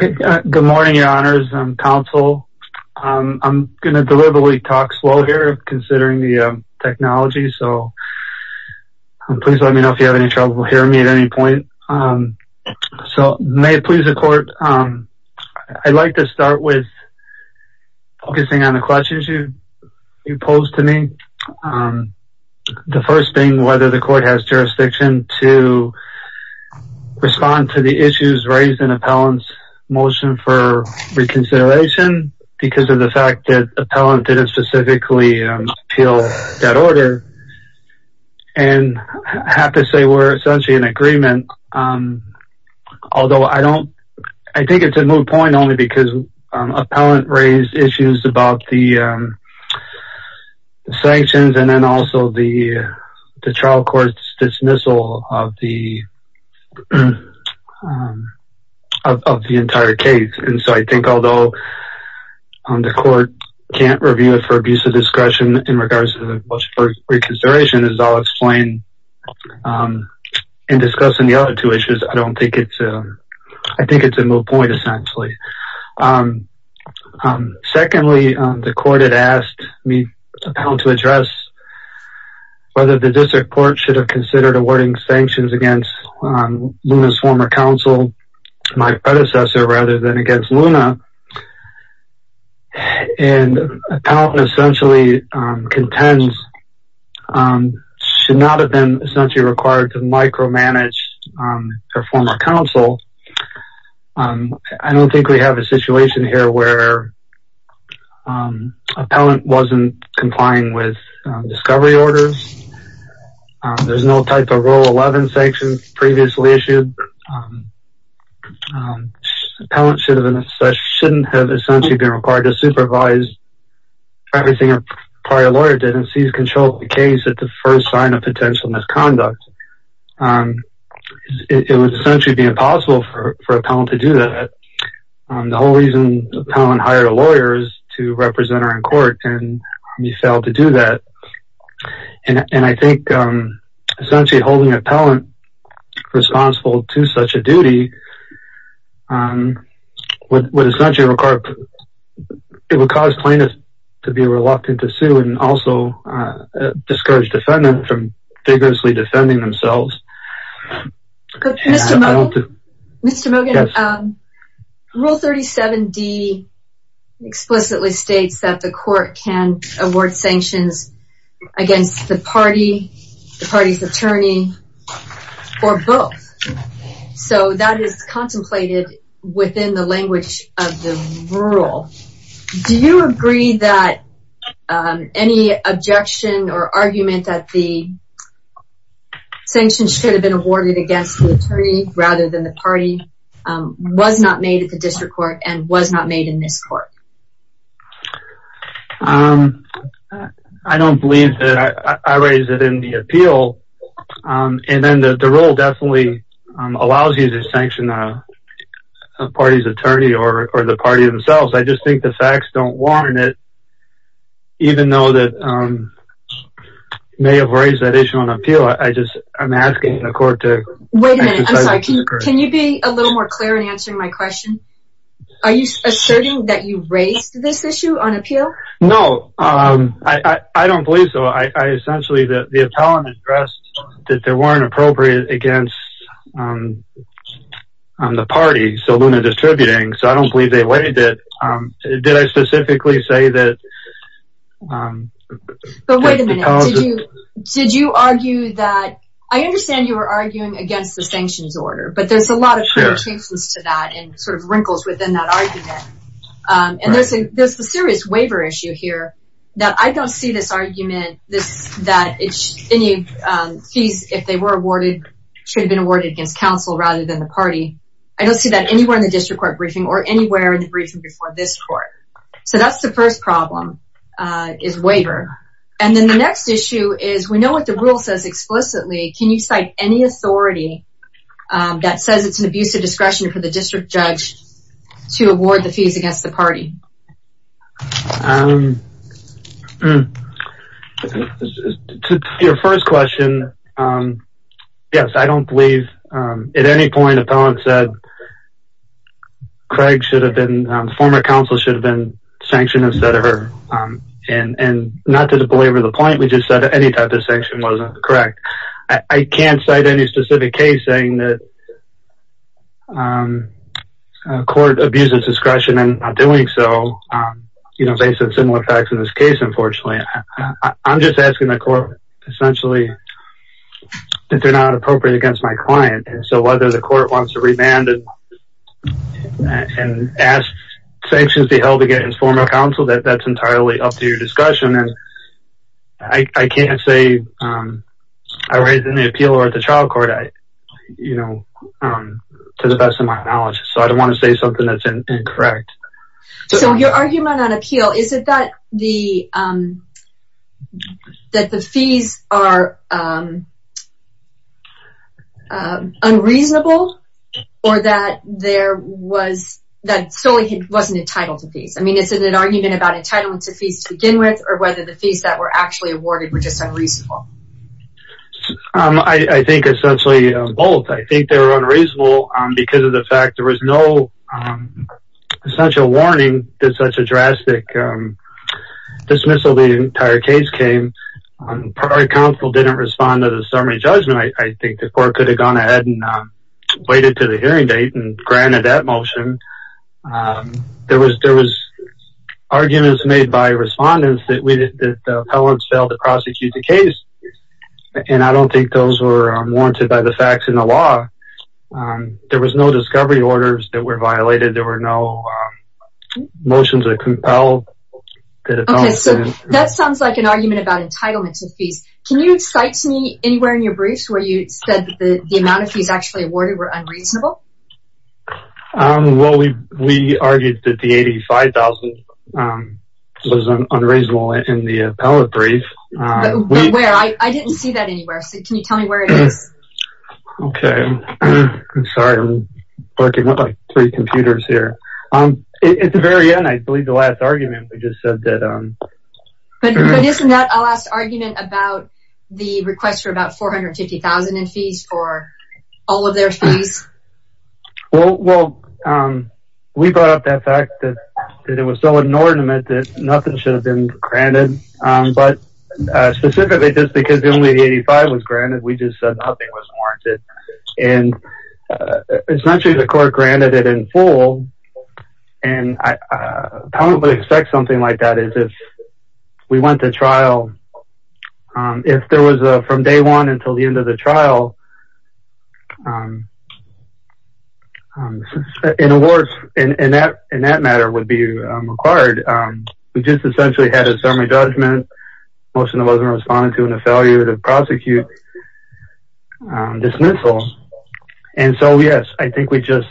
Good morning, your honors and counsel. I'm going to deliberately talk slow here considering the technology. So please let me know if you have any trouble hearing me at any point. So may it please the court. I'd like to start with focusing on the questions you posed to me. The first thing whether the court has jurisdiction to respond to the issues raised in appellant's motion for reconsideration because of the fact that appellant didn't specifically appeal that order. And I have to say we're essentially in agreement. Although I don't, I think it's a moot point only because appellant raised issues about the sanctions and then also the trial court's dismissal of the entire case. And so I think although the court can't review it for abuse of discretion in regards to the motion for reconsideration as I'll explain in discussing the other two issues. I don't think it's, I think it's a moot point only. Secondly, the court had asked me to address whether the district court should have considered awarding sanctions against Luna's former counsel, my predecessor rather than against Luna. And appellant essentially contends should not have been essentially required to micromanage her former counsel. I don't think we have a situation here where appellant wasn't complying with discovery orders. There's no type of rule 11 sanctions previously issued. Appellant shouldn't have essentially been required to supervise everything her prior lawyer did and seize control of the case at the first sign of potential misconduct. It would essentially be impossible for appellant to do that. The whole reason appellant hired a lawyer is to represent her in court and he failed to do that. And I think essentially holding appellant responsible to such a duty would essentially require, it would cause plaintiff to be reluctant to sue and also discourage defendant from vigorously defending themselves. Mr. Mogan, rule 37d explicitly states that the court can award sanctions against the party, the party's attorney or both. So that is contemplated within the language of the Do you agree that any objection or argument that the sanctions should have been awarded against the attorney rather than the party was not made at the district court and was not made in this court? I don't believe that. I raised it in the appeal. And then the rule definitely allows you to even though that may have raised that issue on appeal, I just, I'm asking the court to Wait a minute, I'm sorry. Can you be a little more clear in answering my question? Are you asserting that you raised this issue on appeal? No, I don't believe so. I essentially that the appellant addressed that there weren't appropriate against the party, so Luna Distributing, so I don't believe they weighed it. Did I specifically say that? But wait a minute. Did you? Did you argue that? I understand you were arguing against the sanctions order, but there's a lot of changes to that and sort of wrinkles within that argument. And there's a there's a serious waiver issue here that I don't see this argument this that it's any fees if they were awarded, should have been awarded against counsel rather than the party. I don't see that anywhere in the district court briefing or anywhere in the briefing before this court. So that's the first problem is waiver. And then the next issue is we know what the rule says explicitly. Can you cite any authority that says it's an abuse of discretion for the district judge to award the fees against the party? Your first question. Yes, I don't believe at any point appellant said Craig should have been former counsel should have been sanctioned instead of her. And not to belabor the point, we just said any type of sanction wasn't correct. I can't cite any specific case saying that court abuses discretion and doing so, you know, based on similar facts in this case. Unfortunately, I'm just asking the court essentially that they're not appropriate against my client. And so whether the court wants to remand and ask sanctions to be held against former counsel that that's entirely up to your discussion. And I can't say I read in the appeal or the trial court, I, you know, to the best of my knowledge. So I don't want to say something that's incorrect. So your argument on appeal, is it that the that the fees are unreasonable? Or that there was that solely he wasn't entitled to these? I mean, it's an argument about entitlement to fees to begin with, or whether the fees that were actually awarded were just unreasonable. I think essentially, both I think they were unreasonable. Because of the fact there was no such a warning, there's such a drastic dismissal, the entire case came on prior counsel didn't respond to the summary judgment, I think the court could have gone ahead and waited to the hearing date and granted that motion. There was there was arguments made by respondents that we did that the appellants failed to prosecute the case. And I don't think those were warranted by the facts in the law. There was no discovery orders that were violated. There were no motions are compelled. Okay, so that sounds like an argument about entitlement to fees. Can you cite to me anywhere in your briefs where you said that the amount of fees actually awarded were unreasonable? Well, we we argued that the 85,000 was unreasonable in the appellate brief. Where I didn't see that anywhere. So can you tell me where it is? Okay, I'm sorry. I'm working with like three computers here. It's the very end. I believe the last argument we just said that, um, but isn't that a last argument about the request for about 450,000 in fees for all of their fees? Well, well, we brought up that fact that it was so inordinate that nothing should have been granted. But specifically, just because only the 85 was granted, we just said nothing was warranted. And it's not true. The court granted it in full. And I don't expect something like that is if we went to trial. If there was a from day one until the end of the trial. Um, in a word, in that in that matter would be required. We just essentially had a summary judgment. Most of them wasn't responding to and a failure to prosecute dismissals. And so yes, I think we just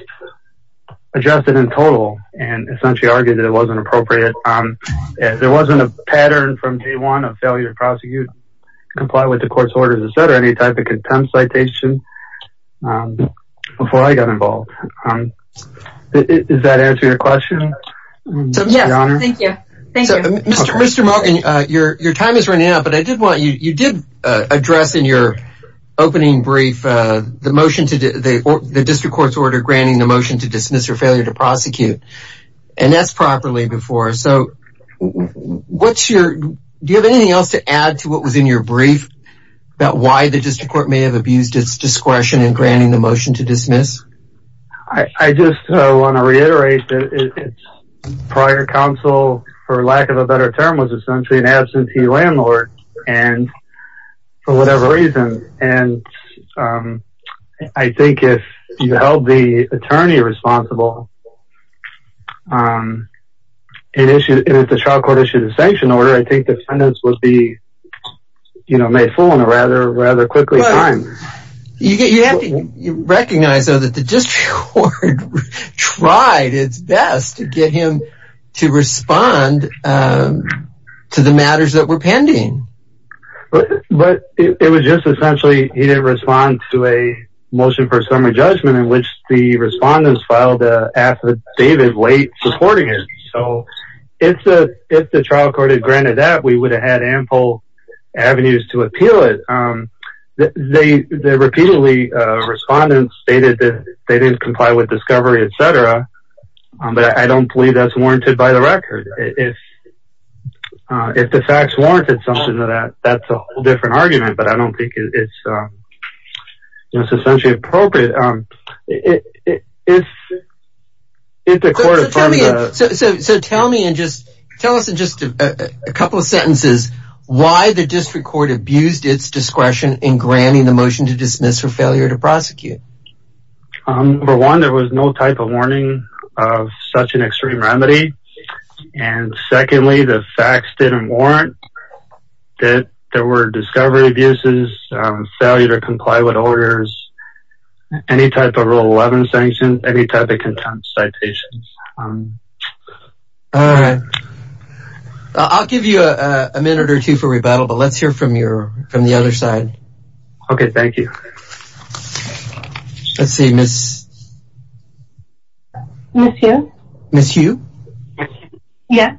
adjusted in total and essentially argued that it wasn't appropriate. There wasn't a pattern from day one of failure to prosecute, comply with the court's orders, etc. Any type of contempt citation before I got involved. Does that answer your question? Yes, thank you. Thank you. Mr. Morgan, your time is running out. But I did want you did address in your opening brief, the motion to the district court's order granting the motion to dismiss or failure to prosecute. And that's properly before. So what's your do you have anything else to add to what was in your brief about why the district court may have abused its discretion in granting the motion to dismiss? I just want to reiterate that prior counsel, for lack of a better term was essentially an absentee landlord. And for whatever reason, and I think if you held the attorney responsible, and if the trial court issued a sanction order, I think defendants would be, you know, made full on a rather rather quickly time. You have to recognize that the district court tried its best to get him to respond to the matters that were pending. But it was just essentially he didn't respond to a motion for summary judgment in which the respondents filed a David late supporting it. So it's a if the trial court had granted that we would have had ample avenues to appeal it. They repeatedly respondents stated that they didn't comply with discovery, etc. But I don't believe that's warranted by the record. If if the facts warranted something to that, that's a different argument. But I don't think it's necessarily appropriate. It is. So tell me and just tell us in just a couple of sentences, why the district court abused its discretion in granting the motion to dismiss for failure to prosecute. For one, there was no type of warning of such an extreme remedy. And secondly, the facts didn't warrant that there were discovery abuses, failure to comply with orders, any type of rule 11 sanction, any type of contempt citations. All right. I'll give you a minute or two for rebuttal, but let's hear from your from the other side. Okay, thank you. Let's see, Miss. Miss Hugh. Miss Hugh. Yes.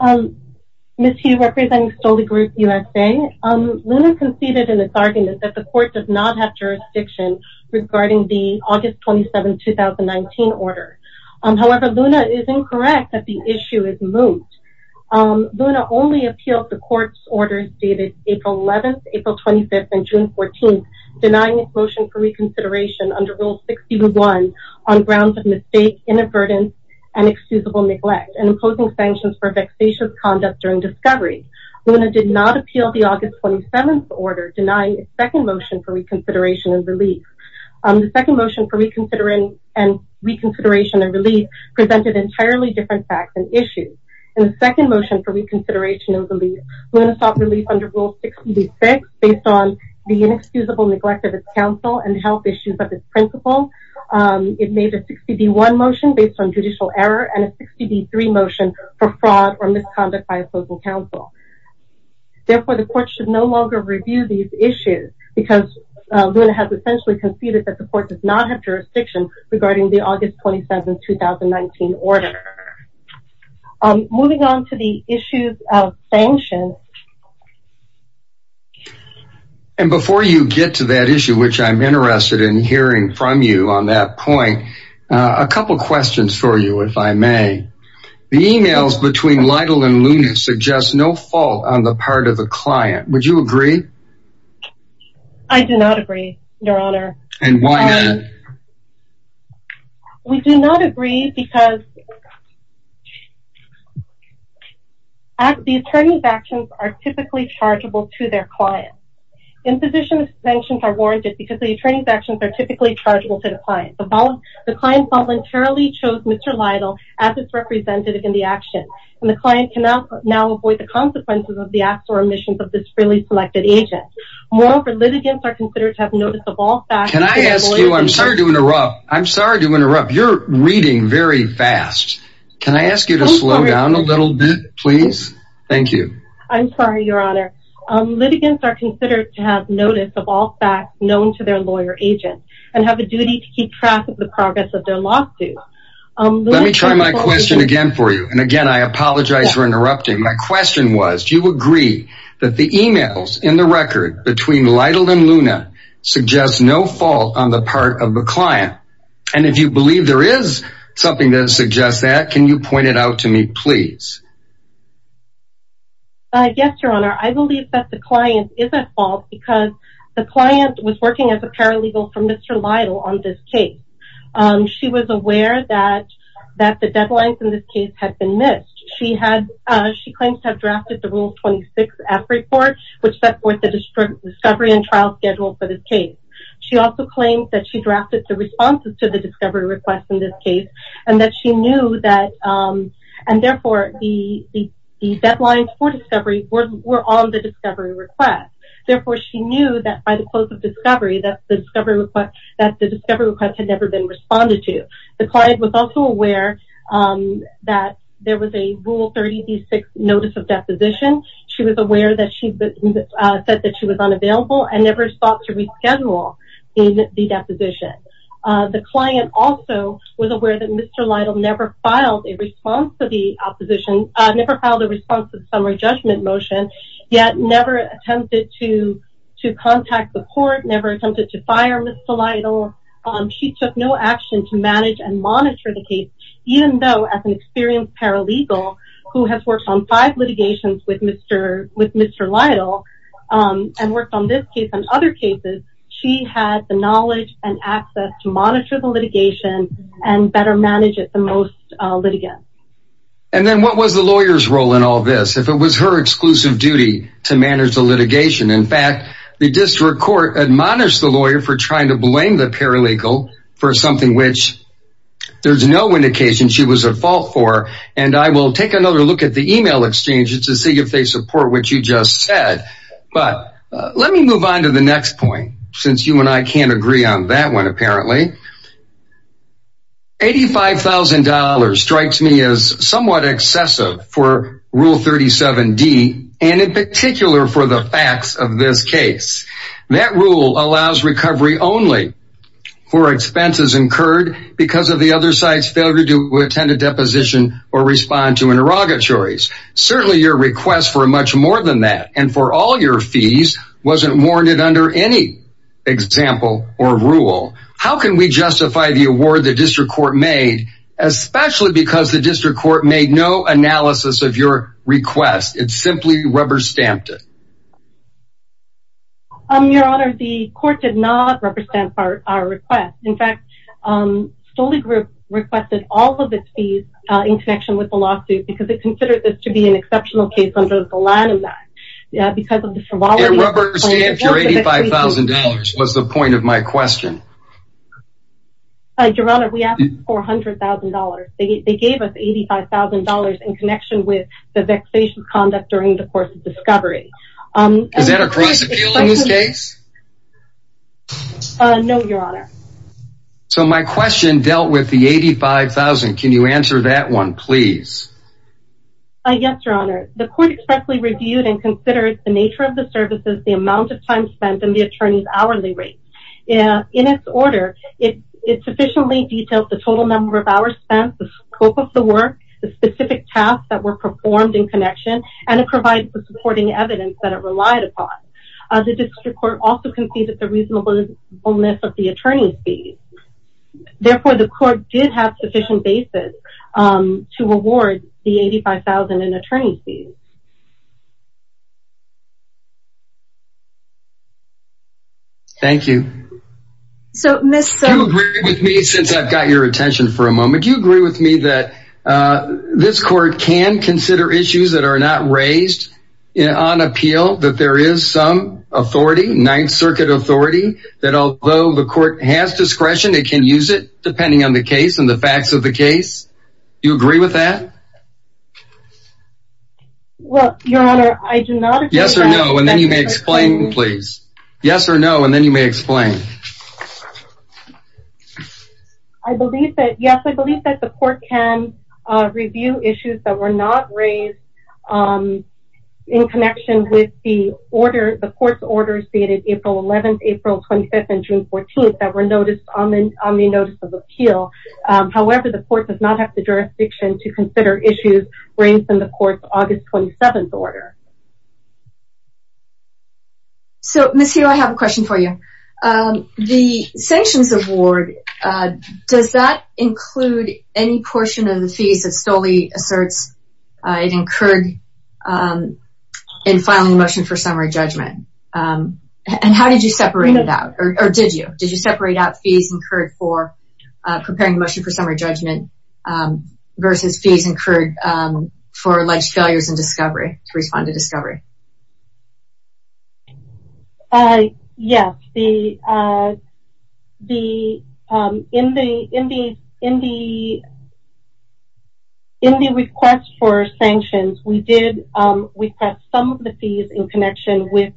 Um, Miss Hugh representing Stolle Group USA. Luna conceded in this argument that the court does not have jurisdiction regarding the August 27, 2019 order. However, Luna is incorrect that the issue is moot. Luna only appealed the court's orders dated April 11th, April 25th and June 14th, for reconsideration under Rule 61 on grounds of mistake, inadvertence, and excusable neglect and imposing sanctions for vexatious conduct during discovery. Luna did not appeal the August 27th order denying a second motion for reconsideration and relief. The second motion and reconsideration and relief presented entirely different facts and issues. And the second motion for reconsideration and relief, Luna sought relief under Rule 66 based on the inexcusable neglect of its counsel and health issues of its principle. It made a 60D1 motion based on judicial error and a 60D3 motion for fraud or misconduct by opposing counsel. Therefore, the court should no longer review these issues because Luna has essentially conceded that the court does not have jurisdiction regarding the August 27, 2019 order. Um, moving on to the issues of sanctions. And before you get to that issue, which I'm interested in hearing from you on that point, a couple of questions for you, if I may. The emails between Lytle and Luna suggest no fault on the part of the client. Would you agree? I do not agree, your honor. And why not? We do not agree because the attorney's actions are typically chargeable to their client. Imposition of sanctions are warranted because the attorney's actions are typically chargeable to the client. The client voluntarily chose Mr. Lytle as its representative in the action, and the client cannot now avoid the consequences of the acts or omissions of this freely selected agent. Moreover, litigants are considered to have notice of all facts. Can I ask you? I'm sorry to interrupt. I'm sorry to interrupt. You're reading very fast. Can I ask you to slow down a little bit, please? Thank you. I'm sorry, your honor. Litigants are considered to have notice of all facts known to their lawyer agent and have a duty to keep track of the progress of their lawsuit. Let me try my question again for you. And again, I apologize for interrupting. My question was, you agree that the emails in the record between Lytle and Luna suggest no fault on the part of the client. And if you believe there is something that suggests that, can you point it out to me, please? Yes, your honor. I believe that the client is at fault because the client was working as a paralegal from Mr. Lytle on this case. She was aware that the deadlines in this case had been missed. She claims to have drafted the Rule 26-F report, which set forth the discovery and trial schedule for this case. She also claims that she drafted the responses to the discovery request in this case and that she knew that, and therefore, the deadlines for discovery were on the discovery request. Therefore, she knew that by the close of discovery that the discovery request had never been responded to. The client was also aware that there was a Rule 36 notice of deposition. She was aware that she said that she was unavailable and never sought to reschedule in the deposition. The client also was aware that Mr. Lytle never filed a response to the opposition, never filed a response to the summary judgment motion, yet never attempted to contact the court, never attempted to fire Mr. Lytle. She took no action to manage and monitor the case, even though as an experienced paralegal who has worked on five litigations with Mr. Lytle and worked on this case and other cases, she had the knowledge and access to monitor the litigation and better manage it the most litigant. And then what was the lawyer's role in all this if it was her exclusive duty to manage the litigation? In fact, the district court admonished the lawyer for trying to blame the paralegal for something which there's no indication she was at fault for. And I will take another look at the email exchanges to see if they support what you just said. But let me move on to the next point since you and I can't agree on that one apparently. $85,000 strikes me as somewhat excessive for Rule 37d and in particular for the facts of this case. That rule allows recovery only for expenses incurred because of the other side's failure to attend a deposition or respond to interrogatories. Certainly your request for much more than that and for all your fees wasn't warranted under any example or rule. How can we justify the award the district court made, especially because the district court made no analysis of your request? It simply rubber stamped it. Your Honor, the court did not represent our request. In fact, Stoly Group requested all of its fees in connection with the lawsuit because it considered this to be an exceptional case under the Volanum Act. Because of the frivolity... It rubber stamped your $85,000 was the point of my question. Your Honor, we asked for $100,000. They gave us $85,000 in connection with the vexation conduct during the course of discovery. Is that a cross-appeal in this case? No, Your Honor. So my question dealt with the $85,000. Can you answer that one, please? Yes, Your Honor. The court expressly reviewed and considered the nature of the services, the amount of time spent, and the attorney's hourly rate. In its order, it sufficiently detailed the total number of hours spent, the scope of the work, the specific tasks that were performed in connection, and it provided the supporting evidence that it relied upon. The district court also conceded the reasonableness of the attorney's fees. Therefore, the court did not have sufficient basis to award the $85,000 in attorney's fees. Thank you. You agree with me since I've got your attention for a moment. You agree with me that this court can consider issues that are not raised on appeal, that there is some authority, Ninth Circuit authority, that although the court has discretion, it can use it depending on the facts of the case. Do you agree with that? Well, Your Honor, I do not. Yes or no, and then you may explain, please. Yes or no, and then you may explain. I believe that, yes, I believe that the court can review issues that were not raised in connection with the order. The court's order stated April 11th, April 25th, and June 14th were noticed on the notice of appeal. However, the court does not have the jurisdiction to consider issues raised in the court's August 27th order. So, Ms. Hill, I have a question for you. The sanctions award, does that include any portion of the fees that STOLE asserts it incurred in filing a motion for summary judgment? And how did you separate it out, or did you? Did you separate out fees incurred for preparing a motion for summary judgment versus fees incurred for alleged failures in discovery, to respond to discovery? Yes. In the request for sanctions, we did request some of the fees in connection with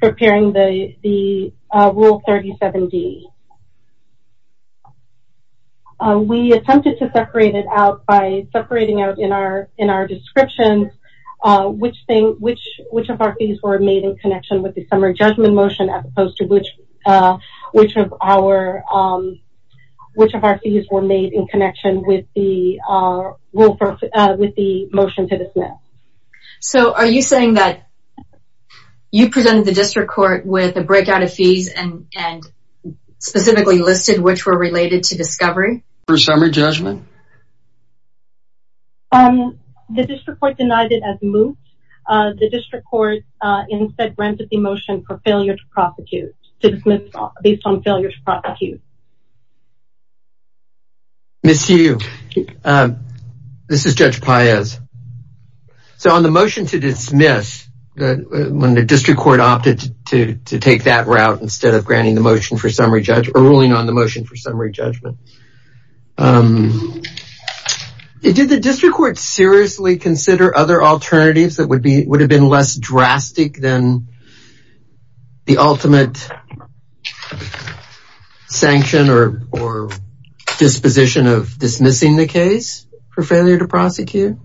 preparing the Rule 37D. We attempted to separate it out by separating out in our descriptions which of our fees were made in connection with the summary judgment motion as opposed to which of our fees were made in connection with the motion to dismiss. So, are you saying that you presented the district court with a breakout of fees and specifically listed which were related to discovery? For summary judgment? The district court denied it as moot. The district court instead granted the motion for failure to prosecute, to dismiss based on failure to prosecute. Miss Hugh, this is Judge Paez. So, on the motion to dismiss, when the district court opted to take that route instead of granting the motion for summary judgment, or ruling on the motion for summary judgment, did the district court seriously consider other alternatives that would have been less drastic than the ultimate sanction or disposition of dismissing the case for failure to prosecute?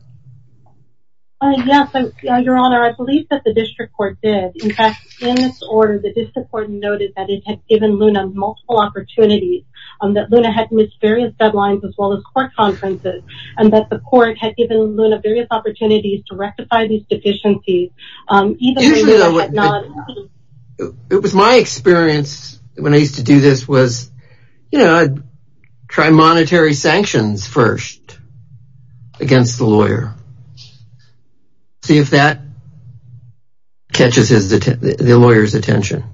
Yes, Your Honor. I believe that the district court did. In fact, in this order, the district court noted that it had given Luna multiple opportunities, that Luna had missed various deadlines as well as court conferences, and that the court had given Luna various opportunities to rectify these deficiencies. It was my experience when I used to do this was, you know, try monetary sanctions first against the lawyer. See if that catches the lawyer's attention.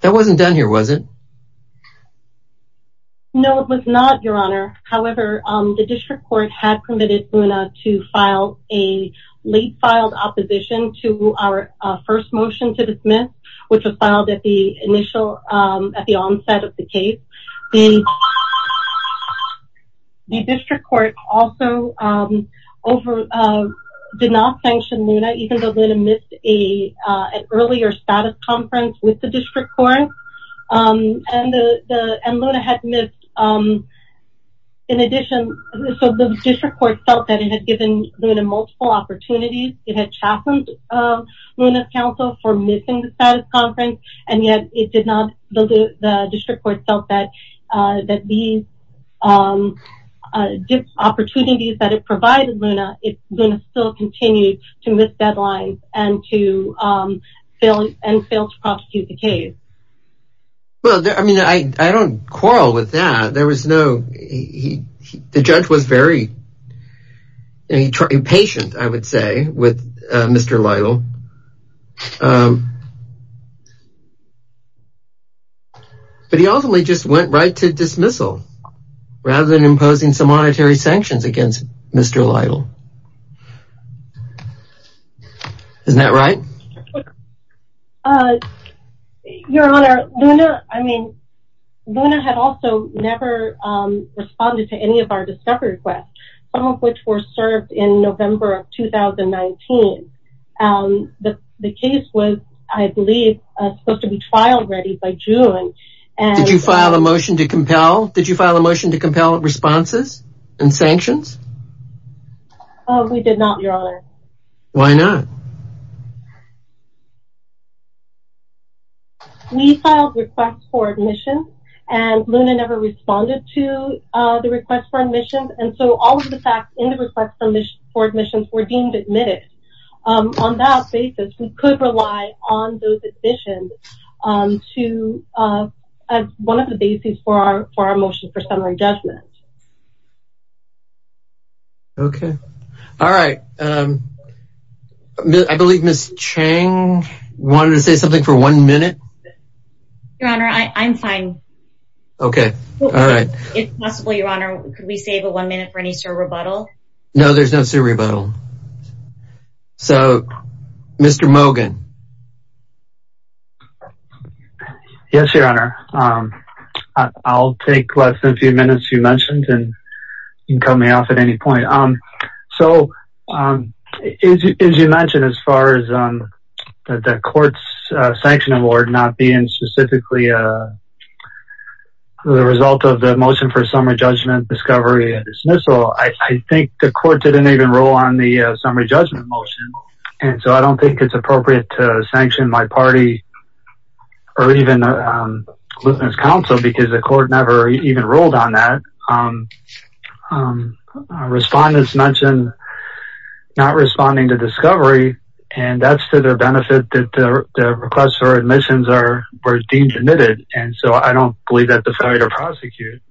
That wasn't done here, was it? No, it was not, Your Honor. However, the district court had permitted Luna to file late filed opposition to our first motion to dismiss, which was filed at the onset of the case. The district court also did not sanction Luna, even though Luna missed an earlier status conference with the district court. And Luna had missed, in addition, so the district court felt that it had given Luna multiple opportunities. It had chastened Luna's counsel for missing the status conference. And yet it did not, the district court felt that these opportunities that it provided Luna, Luna still continued to miss deadlines and to fail to prosecute the case. Well, I mean, I don't quarrel with that. There was no, the judge was very impatient, I would say, with Mr. Lytle. But he ultimately just went right to dismissal, rather than imposing some monetary sanctions against Mr. Lytle. Isn't that right? Your Honor, Luna, I mean, Luna had also never responded to any of our discovery requests, some of which were served in November of 2019. The case was, I believe, supposed to be filed ready by June. Did you file a motion to compel? Did you file a motion to compel responses and sanctions? We did not, Your Honor. Why not? We filed requests for admission, and Luna never responded to the request for admission. And so all of the facts in the request for admission were deemed admitted. On that basis, we could rely on those admissions as one of the bases for our motion for summary judgment. Okay. All right. I believe Ms. Cheng wanted to say something for one minute. Your Honor, I'm fine. Okay. All right. If possible, Your Honor, could we save a one minute for any sub rebuttal? No, there's no sub rebuttal. So, Mr. Mogan. Yes, Your Honor. I'll take less than a few minutes you mentioned, and you can cut me off at any point. So, as you mentioned, as far as the court's sanction award not being specifically the result of the motion for summary judgment, discovery, and dismissal, I think the court didn't even roll on the summary judgment motion. And so I don't think it's appropriate to dismiss it to sanction my party or even a witness counsel because the court never even rolled on that. Respondents mentioned not responding to discovery, and that's to their benefit that the request for admissions were deemed admitted. And so I don't believe that the failure to prosecute,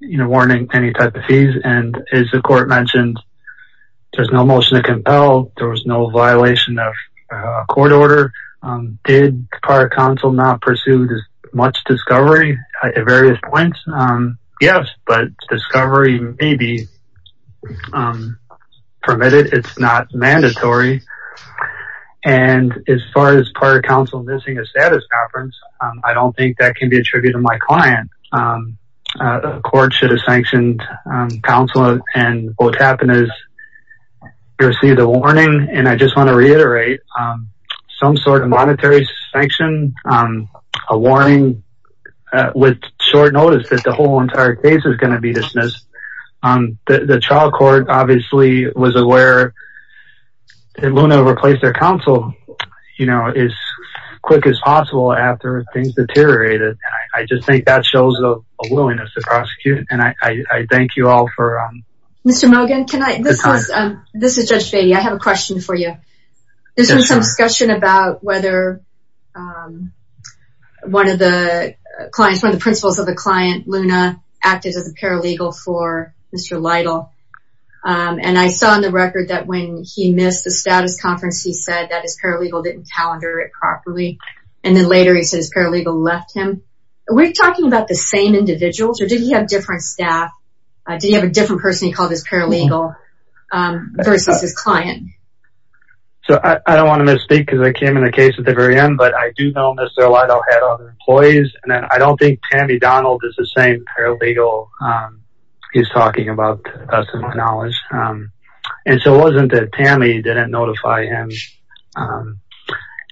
warning any type of fees. And as the court mentioned, there's no motion to compel, there was no violation of court order. Did prior counsel not pursued as much discovery at various points? Yes, but discovery may be permitted. It's not mandatory. And as far as prior counsel missing a status conference, I don't think that can be attributed to my client. The court should have sanctioned counsel and what happened is you received a warning. And I just want to reiterate some sort of monetary sanction, a warning with short notice that the whole entire case is gonna be dismissed. The trial court obviously was aware that Luna replaced their counsel as quick as possible after things deteriorated. I just think that shows a willingness to prosecute and I thank you all for... Mr. Mogan, this is Judge Fahey. I have a question for you. There's been some discussion about whether one of the clients, one of the principals of the client, Luna, acted as a paralegal for Mr. Lytle. And I saw in the record that when he missed the status conference, he didn't calendar it properly. And then later he said his paralegal left him. Are we talking about the same individuals or did he have different staff? Did he have a different person he called his paralegal versus his client? So I don't want to misspeak because I came in the case at the very end, but I do know Mr. Lytle had other employees and then I don't think Tammy Donald is the same paralegal he's talking about to the best of my knowledge. And so it wasn't that Tammy didn't notify him. And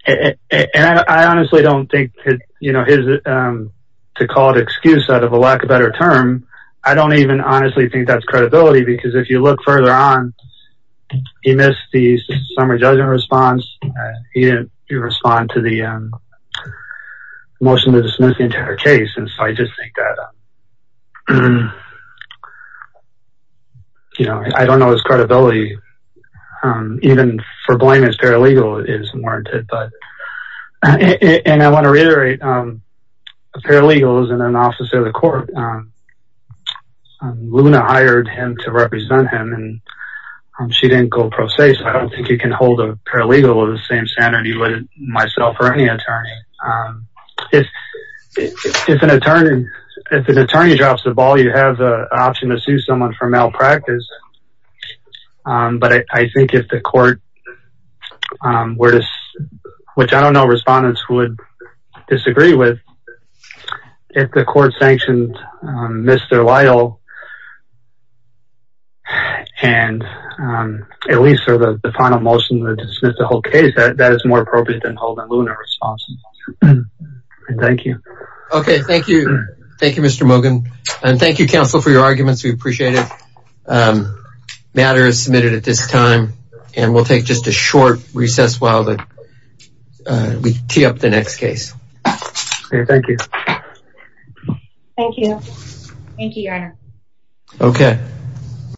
I honestly don't think to call it excuse out of a lack of better term, I don't even honestly think that's credibility because if you look further on, he missed the summary judgment response. He didn't respond to the motion to dismiss the case. And so I just think that, you know, I don't know his credibility, even for blame as paralegal is warranted. But, and I want to reiterate, a paralegal is an officer of the court. Luna hired him to represent him and she didn't go pro se. So I don't think you If an attorney drops the ball, you have the option to sue someone for malpractice. But I think if the court, which I don't know respondents would disagree with, if the court sanctioned Mr. Lytle and at least for the final motion to dismiss the whole case, that is more appropriate than holding Luna responsible. Thank you. Okay, thank you. Thank you, Mr. Moghan. And thank you, counsel, for your arguments. We appreciate it. Matter is submitted at this time. And we'll take just a short recess while we tee up the next case. Thank you. Thank you. Thank you, your honor. Okay.